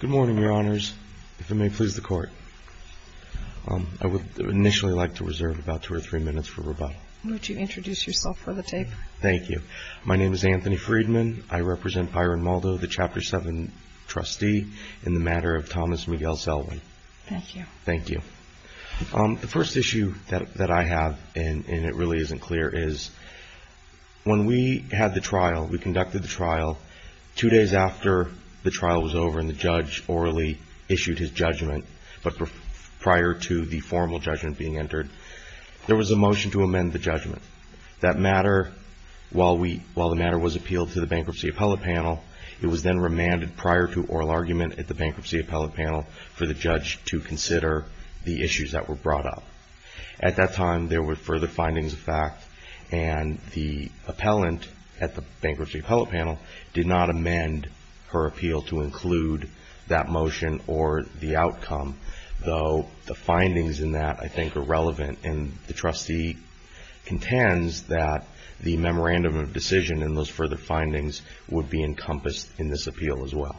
Good morning, Your Honors. If it may please the Court, I would initially like to reserve about two or three minutes for rebuttal. Would you introduce yourself for the tape? Thank you. My name is Anthony Friedman. I represent Byron Moldo, the Chapter 7 trustee, in the matter of Thomas Miguel Selwyn. Thank you. Thank you. The first issue that I have, and it really isn't clear, is when we had the trial was over and the judge orally issued his judgment, but prior to the formal judgment being entered, there was a motion to amend the judgment. That matter, while the matter was appealed to the Bankruptcy Appellate Panel, it was then remanded prior to oral argument at the Bankruptcy Appellate Panel for the judge to consider the issues that were brought up. At that time, there were further findings of fact, and the appellant at the Bankruptcy Appeal to include that motion or the outcome, though the findings in that I think are relevant, and the trustee contends that the memorandum of decision and those further findings would be encompassed in this appeal as well.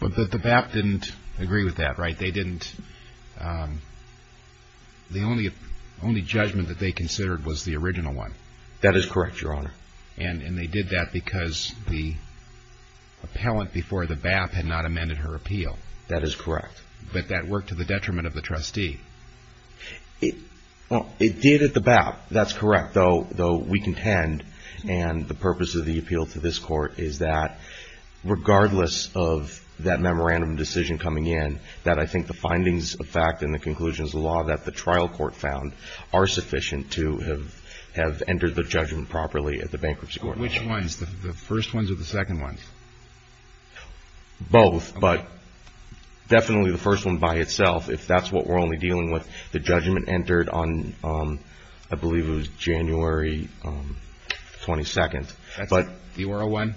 But the BAP didn't agree with that, right? They didn't. The only judgment that they considered was the original one. That is correct, Your Honor. And they did that because the appellant before the BAP had not amended her appeal. That is correct. But that worked to the detriment of the trustee. It did at the BAP. That's correct, though we contend, and the purpose of the appeal to this court is that regardless of that memorandum of decision coming in, that I think the findings of fact and the conclusions of law that the trial court found are sufficient to have entered the judgment properly at the Bankruptcy Court. Which ones? The first ones or the second ones? Both, but definitely the first one by itself, if that's what we're only dealing with. The judgment entered on, I believe it was January 22nd. The oral one?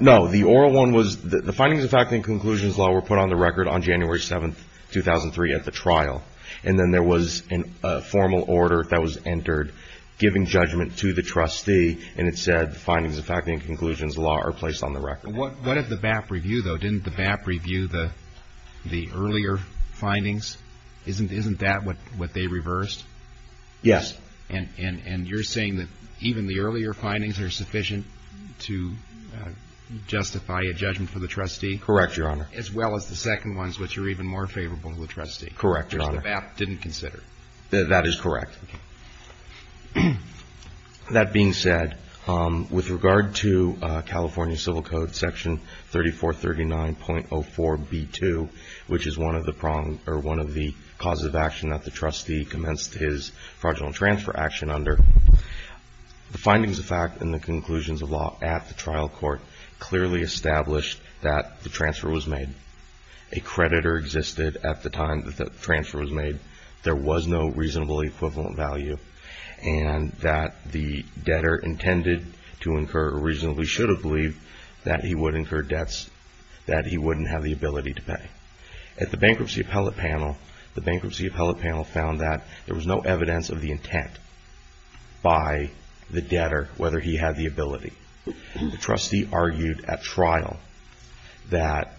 No, the oral one was, the findings of fact and conclusions of law were put on the record on January 7th, 2003 at the trial, and then there was a formal order that was entered giving judgment to the trustee, and it said the findings of fact and conclusions of law are placed on the record. What did the BAP review, though? Didn't the BAP review the earlier findings? Isn't that what they reversed? Yes. And you're saying that even the earlier findings are sufficient to justify a judgment for the trustee? Correct, Your Honor. As well as the second ones, which are even more favorable to the trustee. Correct, Your Honor. Which the BAP didn't consider. That is correct. That being said, with regard to California Civil Code section 3439.04b2, which is one of the causes of action that the trustee commenced his fraudulent transfer action under, the findings of fact and the conclusions of law at the trial court clearly established that the transfer was made. A creditor existed at the time that the transfer was made. There was no reasonable equivalent value, and that the debtor intended to incur or reasonably should have believed that he would incur debts that he wouldn't have the ability to pay. At the bankruptcy appellate panel, the bankruptcy appellate panel found that there was no evidence of the intent by the debtor whether he had the ability. The trustee argued at trial that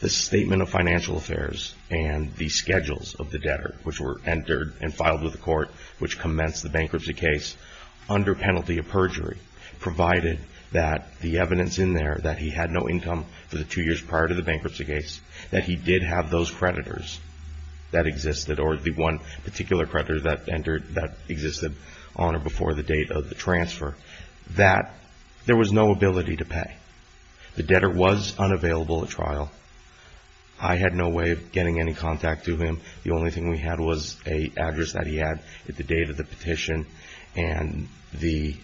the statement of financial affairs and the schedules of the debtor, which were entered and filed with the court, which commenced the bankruptcy case under penalty of perjury, provided that the evidence in there that he had no income for the two years prior to the bankruptcy case, that he did have those creditors that existed or the one particular creditor that entered that existed on or before the date of the transfer, that there was no ability to pay. The debtor was unavailable at trial. I had no way of getting any contact to him. The only thing we had was an address that he had at the date of the petition, and the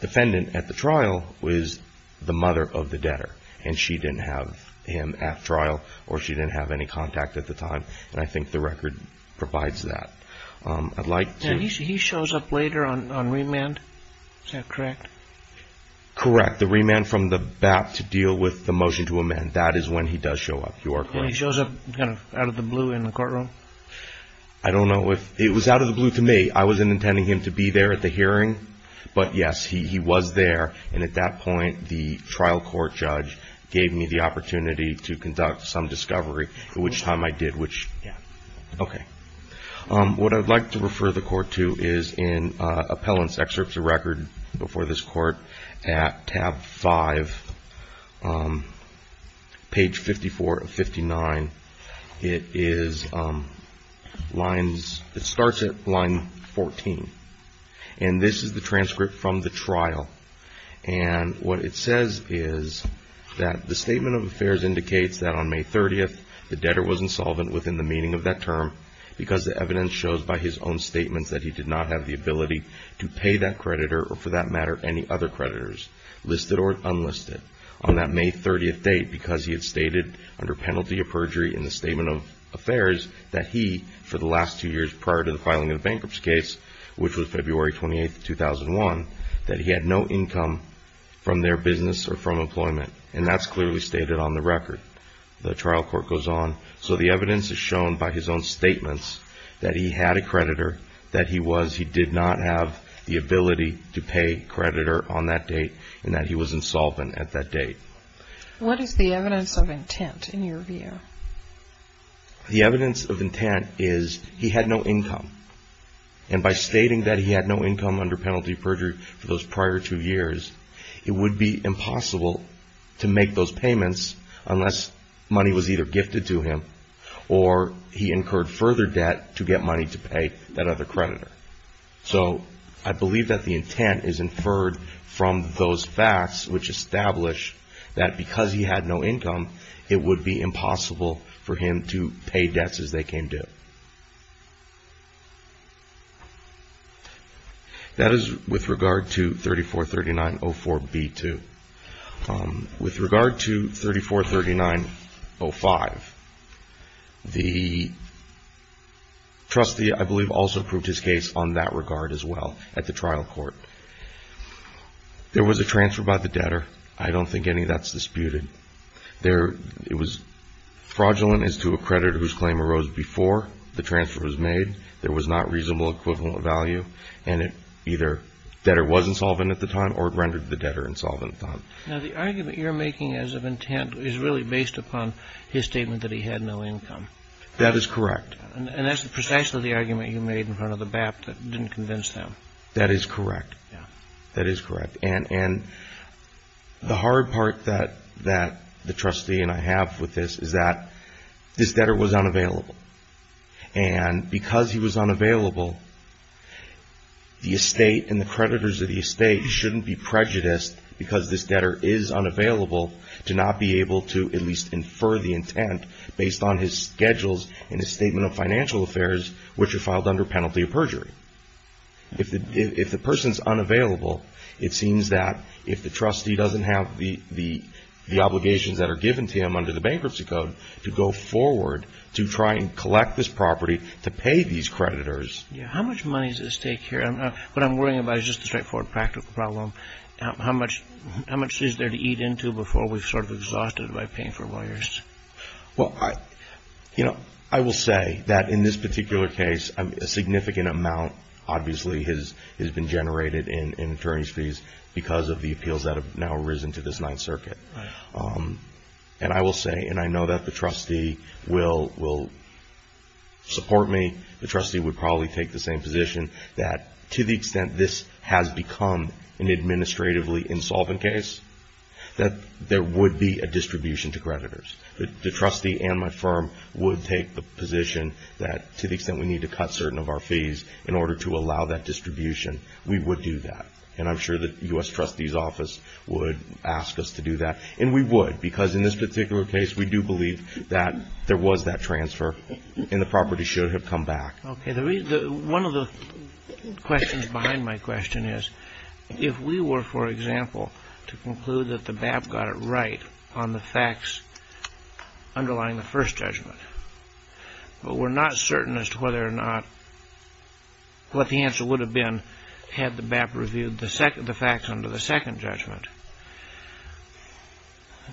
defendant at the trial was the mother of the debtor, and she didn't have him at trial or she didn't have any contact at the time. And I think the record provides that. I'd like to... He shows up later on remand. Is that correct? Correct. He shows up at the remand from the BAP to deal with the motion to amend. That is when he does show up. You are correct. He shows up kind of out of the blue in the courtroom? I don't know if... It was out of the blue to me. I wasn't intending him to be there at the hearing, but yes, he was there, and at that point, the trial court judge gave me the opportunity to conduct some discovery, at which time I did, which... Yeah. Okay. What I'd like to refer the court to is in appellant's excerpts of record before this court at tab 5, page 54 of 59. It is lines... It starts at line 14, and this is the transcript from the trial, and what it says is that the statement of affairs indicates that on May 30th, the debtor was insolvent within the term because the evidence shows by his own statements that he did not have the ability to pay that creditor, or for that matter, any other creditors, listed or unlisted, on that May 30th date because he had stated under penalty of perjury in the statement of affairs that he, for the last two years prior to the filing of the bankruptcy case, which was February 28th, 2001, that he had no income from their business or from employment, and that's clearly stated on the record. The trial court goes on. So the evidence is shown by his own statements that he had a creditor, that he was... He did not have the ability to pay creditor on that date, and that he was insolvent at that date. What is the evidence of intent in your view? The evidence of intent is he had no income, and by stating that he had no income under penalty of perjury for those prior two years, it would be impossible to make those payments unless money was either gifted to him or he incurred further debt to get money to pay that other creditor. So I believe that the intent is inferred from those facts which establish that because he had no income, it would be impossible for him to pay debts as they came due. That is with regard to 3439.04b2. With regard to 3439.05, the trustee, I believe, also proved his case on that regard as well at the trial court. There was a transfer by the debtor. I don't think any of that's disputed. It was fraudulent as to a creditor whose claim arose before the transfer was made. There was not reasonable equivalent value, and either debtor was insolvent at the time or rendered the debtor insolvent at the time. Now, the argument you're making as of intent is really based upon his statement that he had no income. That is correct. And that's precisely the argument you made in front of the BAPT that didn't convince them. That is correct. Yeah. That is correct. And the hard part that the trustee and I have with this is that this debtor was unavailable, and because he was unavailable, the estate and the creditors of the estate shouldn't be prejudiced because this debtor is unavailable to not be able to at least infer the intent based on his schedules and his statement of financial affairs, which are filed under penalty of perjury. If the person's unavailable, it seems that if the trustee doesn't have the obligations that are given to him under the bankruptcy code to go forward to try and collect this property, to pay these creditors. Yeah. How much money does this take here? What I'm worrying about is just the straightforward practical problem. How much is there to eat into before we're sort of exhausted by paying for lawyers? Well, I will say that in this particular case, a significant amount, obviously, has been generated in attorney's fees because of the appeals that have now arisen to this Ninth Amendment. And I will say, and I know that the trustee will support me, the trustee would probably take the same position, that to the extent this has become an administratively insolvent case, that there would be a distribution to creditors. The trustee and my firm would take the position that to the extent we need to cut certain of our fees in order to allow that distribution, we would do that. And I'm sure that U.S. Trustee's Office would ask us to do that. And we would, because in this particular case, we do believe that there was that transfer and the property should have come back. Okay. One of the questions behind my question is, if we were, for example, to conclude that the BAP got it right on the facts underlying the first judgment, but we're not certain as to whether or not what the answer would have been had the BAP reviewed the facts under the second judgment.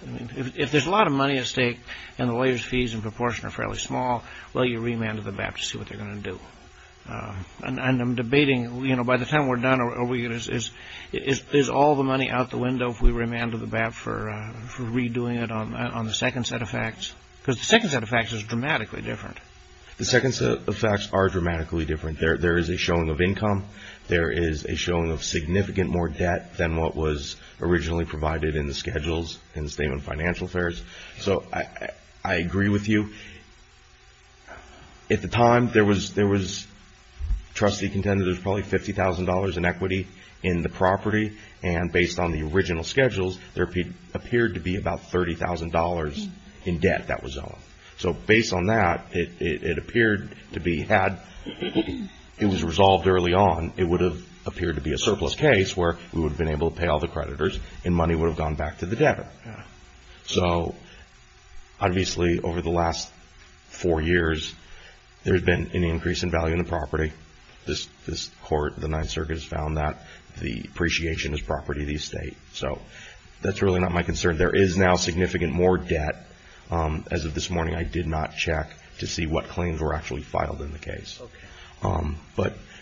I mean, if there's a lot of money at stake and the lawyers' fees in proportion are fairly small, will you remand to the BAP to see what they're going to do? And I'm debating, you know, by the time we're done, is all the money out the window if we remand to the BAP for redoing it on the second set of facts? Because the second set of facts is dramatically different. The second set of facts are dramatically different. There is a showing of income. There is a showing of significant more debt than what was originally provided in the schedules in the statement of financial affairs. So, I agree with you. At the time, there was, trustee contended there was probably $50,000 in equity in the property. And based on the original schedules, there appeared to be about $30,000 in debt that was on. So, based on that, it appeared to be had. It was resolved early on. It would have appeared to be a surplus case where we would have been able to pay all the creditors and money would have gone back to the debtor. So, obviously, over the last four years, there has been an increase in value in the property. This court, the Ninth Circuit, has found that the appreciation is property of the estate. So, that's really not my concern. There is now significant more debt. As of this morning, I did not check to see what claims were actually filed in the case.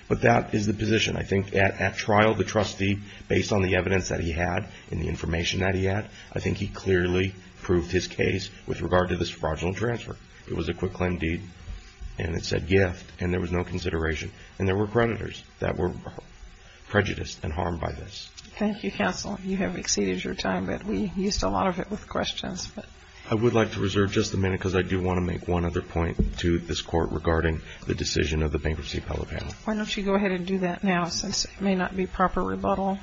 But that is the position. I think at trial, the trustee, based on the evidence that he had and the information that he had, I think he clearly proved his case with regard to this fraudulent transfer. It was a quick claim deed. And it said gift. And there was no consideration. Thank you, counsel. You have exceeded your time, but we used a lot of it with questions. I would like to reserve just a minute because I do want to make one other point to this court regarding the decision of the Bankruptcy Appellate Panel. Why don't you go ahead and do that now since it may not be proper rebuttal.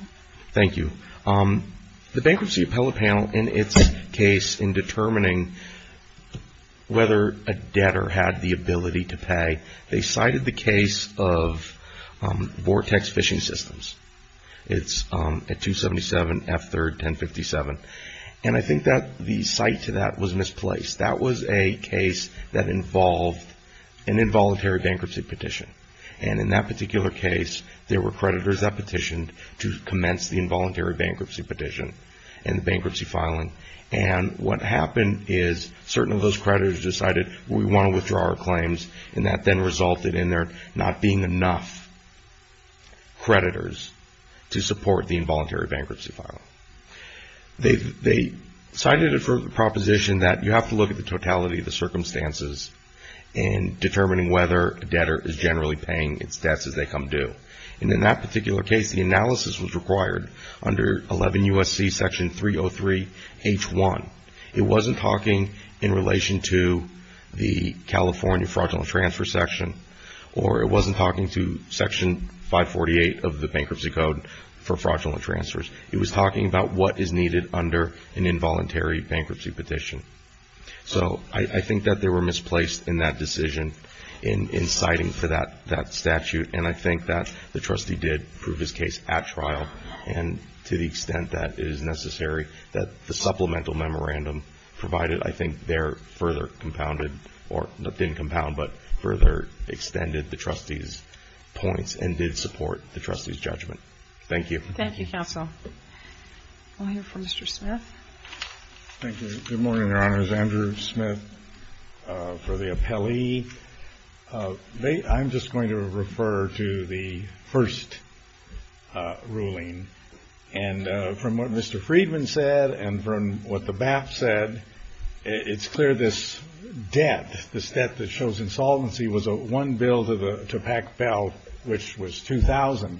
Thank you. The Bankruptcy Appellate Panel, in its case in determining whether a debtor had the ability to pay, they cited the case of Vortex Fishing Systems. It's at 277 F3rd 1057. And I think that the cite to that was misplaced. That was a case that involved an involuntary bankruptcy petition. And in that particular case, there were creditors that petitioned to commence the involuntary bankruptcy petition and the bankruptcy filing. And what happened is certain of those creditors decided, we want to withdraw our claims. And that then resulted in there not being enough creditors to support the involuntary bankruptcy filing. They cited a proposition that you have to look at the totality of the circumstances in determining whether a debtor is generally paying its debts as they come due. And in that particular case, the analysis was required under 11 U.S.C. section 303 H1. It wasn't talking in relation to the California fraudulent transfer section or it wasn't talking to section 548 of the Bankruptcy Code for fraudulent transfers. It was talking about what is needed under an involuntary bankruptcy petition. So I think that they were misplaced in that decision in citing for that statute. And I think that the trustee did prove his case at trial and to the extent that it is supplemental memorandum provided, I think, there further compounded or didn't compound, but further extended the trustee's points and did support the trustee's judgment. Thank you. Thank you, counsel. We'll hear from Mr. Smith. Thank you. Good morning, Your Honors. Andrew Smith for the appellee. I'm just going to refer to the first ruling. And from what Mr. Friedman said and from what the BAP said, it's clear this debt, this debt that shows insolvency was one bill to pack bail, which was $2,000.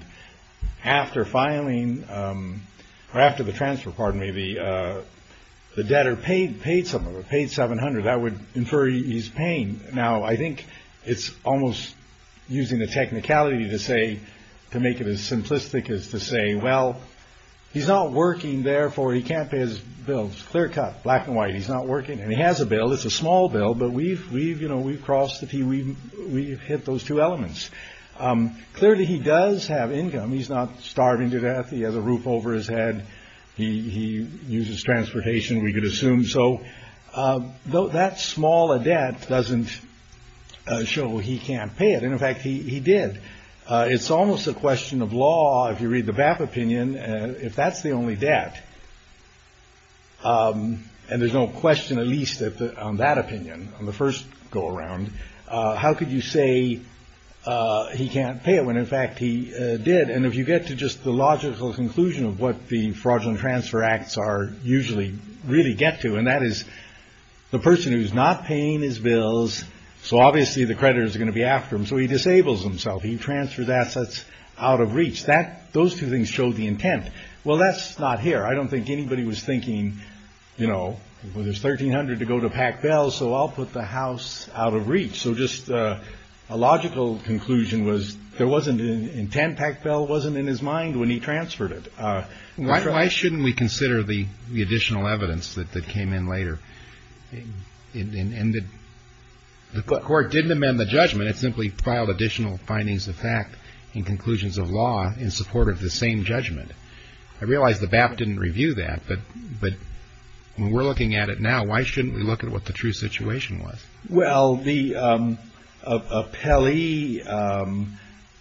After filing or after the transfer, pardon me, the debtor paid some of it, paid $700. I would infer he's paying. Now, I think it's almost using the technicality to say, to make it as simplistic as to say, well, he's not working. Therefore, he can't pay his bills. Clear cut, black and white. He's not working. And he has a bill. It's a small bill. But we've crossed the T. We've hit those two elements. Clearly, he does have income. He's not starving to death. He has a roof over his head. He uses transportation. We could assume so. Though that small a debt doesn't show he can't pay it. And, in fact, he did. It's almost a question of law, if you read the BAP opinion, if that's the only debt. And there's no question, at least on that opinion, on the first go around. How could you say he can't pay it when, in fact, he did? And if you get to just the logical conclusion of what the Fraudulent Transfer Acts usually really get to, and that is the person who's not paying his bills, so obviously the creditor is going to be after him, so he disables himself. He transfers assets out of reach. Those two things show the intent. Well, that's not here. I don't think anybody was thinking, you know, well, there's $1,300 to go to Pac Bell, so I'll put the house out of reach. So just a logical conclusion was there wasn't an intent. Pac Bell wasn't in his mind when he transferred it. Why shouldn't we consider the additional evidence that came in later? And the court didn't amend the judgment. It simply filed additional findings of fact and conclusions of law in support of the same judgment. I realize the BAP didn't review that, but when we're looking at it now, why shouldn't we look at what the true situation was? Well, the appellee,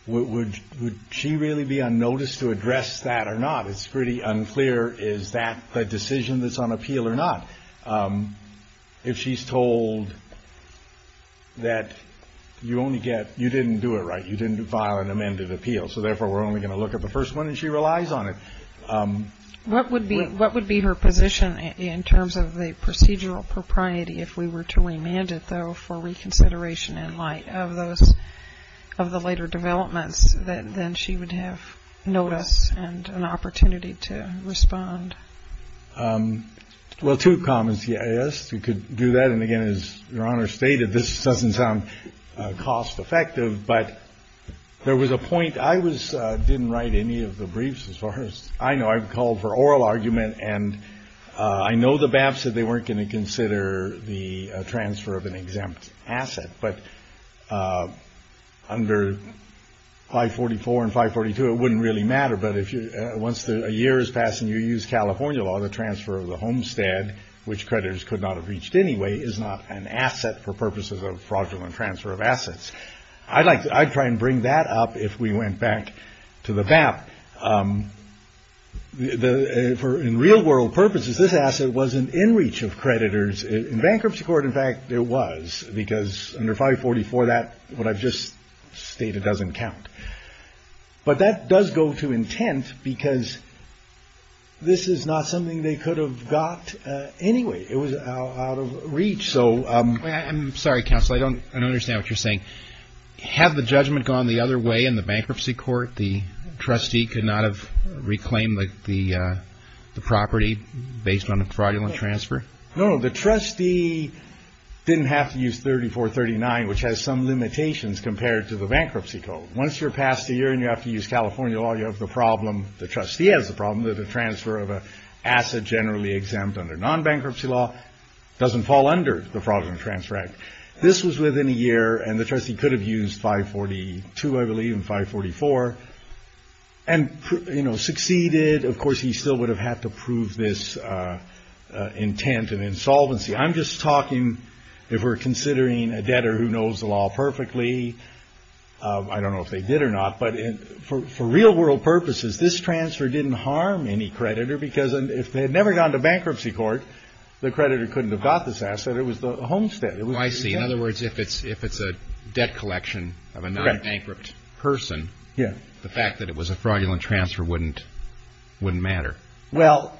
would she really be on notice to address that or not? It's pretty unclear. Is that the decision that's on appeal or not? If she's told that you only get you didn't do it right, you didn't file an amended appeal, so therefore we're only going to look at the first one and she relies on it. What would be her position in terms of the procedural propriety if we were to remand it, though, for reconsideration in light of those of the later developments, that then she would have notice and an opportunity to respond? Well, two comments, yes. You could do that. And, again, as Your Honor stated, this doesn't sound cost effective, but there was a point. I didn't write any of the briefs, as far as I know. I've called for oral argument. And I know the BAP said they weren't going to consider the transfer of an exempt asset. But under 544 and 542, it wouldn't really matter. But once a year has passed and you use California law, the transfer of the homestead, which creditors could not have reached anyway, is not an asset for purposes of fraudulent transfer of assets. I'd try and bring that up if we went back to the BAP. For real-world purposes, this asset wasn't in reach of creditors. In bankruptcy court, in fact, it was, because under 544, what I've just stated doesn't count. But that does go to intent because this is not something they could have got anyway. It was out of reach. I'm sorry, counsel. I don't understand what you're saying. Had the judgment gone the other way in the bankruptcy court, the trustee could not have reclaimed the property based on a fraudulent transfer? No, the trustee didn't have to use 3439, which has some limitations compared to the bankruptcy code. Once you're past a year and you have to use California law, you have the problem, the trustee has the problem that a transfer of an asset generally exempt under non-bankruptcy law doesn't fall under. This was within a year, and the trustee could have used 542, I believe, and 544 and succeeded. Of course, he still would have had to prove this intent and insolvency. I'm just talking if we're considering a debtor who knows the law perfectly. I don't know if they did or not. But for real-world purposes, this transfer didn't harm any creditor because if they had never gone to bankruptcy court, the creditor couldn't have got this asset. It was the homestead. I see. In other words, if it's a debt collection of a non-bankrupt person, the fact that it was a fraudulent transfer wouldn't matter. Well,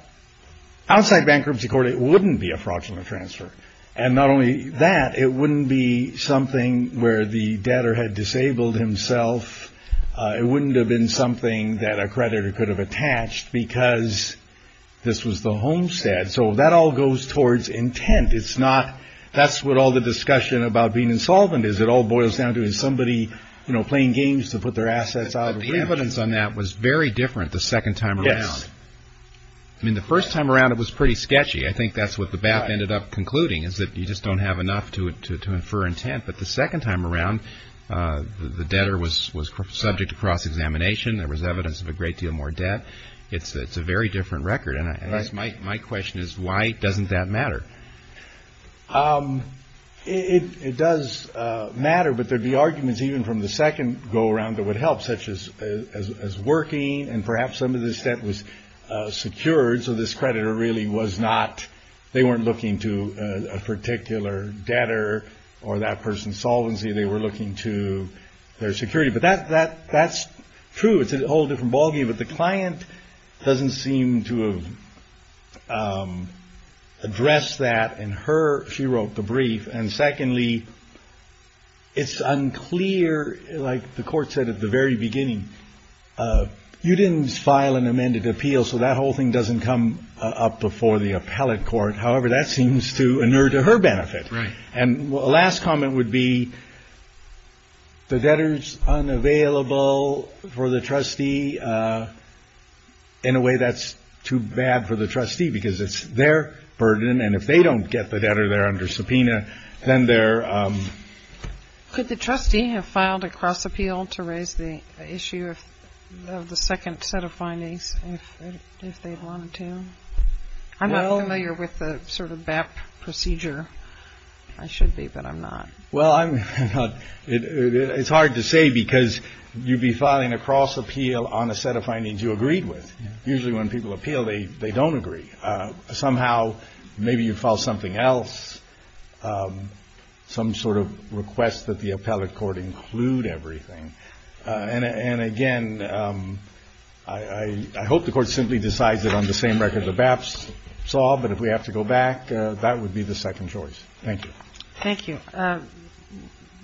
outside bankruptcy court, it wouldn't be a fraudulent transfer. And not only that, it wouldn't be something where the debtor had disabled himself. It wouldn't have been something that a creditor could have attached because this was the homestead. So that all goes towards intent. That's what all the discussion about being insolvent is. It all boils down to, is somebody playing games to put their assets out? The evidence on that was very different the second time around. Yes. I mean, the first time around, it was pretty sketchy. I think that's what the BAP ended up concluding, is that you just don't have enough to infer intent. But the second time around, the debtor was subject to cross-examination. There was evidence of a great deal more debt. It's a very different record. My question is, why doesn't that matter? It does matter, but there would be arguments even from the second go-around that would help, such as working. And perhaps some of this debt was secured, so this creditor really was not – they were looking to their security. But that's true. It's a whole different ballgame. But the client doesn't seem to have addressed that in her – she wrote the brief. And secondly, it's unclear, like the court said at the very beginning, you didn't file an amended appeal, so that whole thing doesn't come up before the appellate court. However, that seems to inure to her benefit. Right. And a last comment would be, the debtor's unavailable for the trustee. In a way, that's too bad for the trustee, because it's their burden, and if they don't get the debtor there under subpoena, then they're – Could the trustee have filed a cross-appeal to raise the issue of the second set of findings, if they wanted to? I'm not familiar with the sort of BAP procedure. I should be, but I'm not. Well, I'm – it's hard to say, because you'd be filing a cross-appeal on a set of findings you agreed with. Usually when people appeal, they don't agree. Somehow, maybe you file something else, some sort of request that the appellate court include everything. And again, I hope the Court simply decides it on the same record the BAPs saw, but if we have to go back, that would be the second choice. Thank you. Thank you.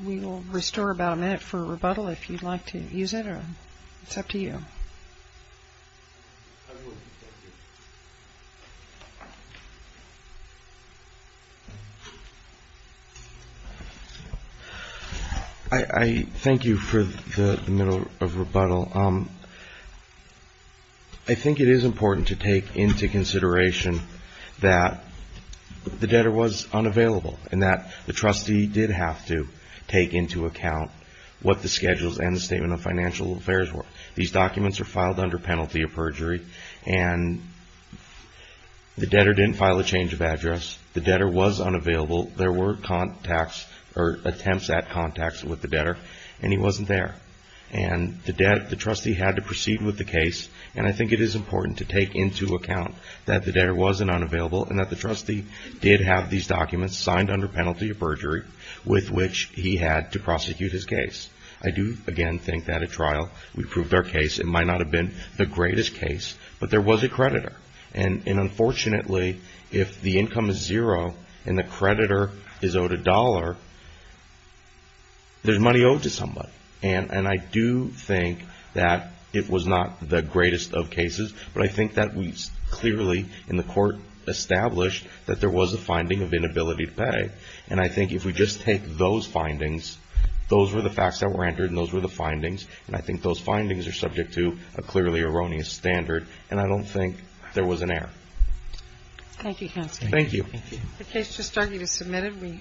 We will restore about a minute for rebuttal, if you'd like to use it, or it's up to you. Thank you. I thank you for the middle of rebuttal. I think it is important to take into consideration that the debtor was unavailable and that the trustee did have to take into account what the schedules and the Statement of Financial Affairs were. These documents are filed under penalty of perjury. And the debtor didn't file a change of address. The debtor was unavailable. There were contacts or attempts at contacts with the debtor, and he wasn't there. And the trustee had to proceed with the case, and I think it is important to take into account that the debtor wasn't unavailable and that the trustee did have these documents signed under penalty of perjury with which he had to prosecute his case. I do, again, think that at trial we proved our case. It might not have been the greatest case, but there was a creditor. And unfortunately, if the income is zero and the creditor is owed a dollar, there's money owed to somebody. And I do think that it was not the greatest of cases, but I think that we clearly in the court established that there was a finding of inability to pay. And I think if we just take those findings, those were the facts that were entered and those were the findings, and I think those findings are subject to a clearly erroneous standard, and I don't think there was an error. Thank you, counsel. Thank you. Thank you. The case just argued is submitted.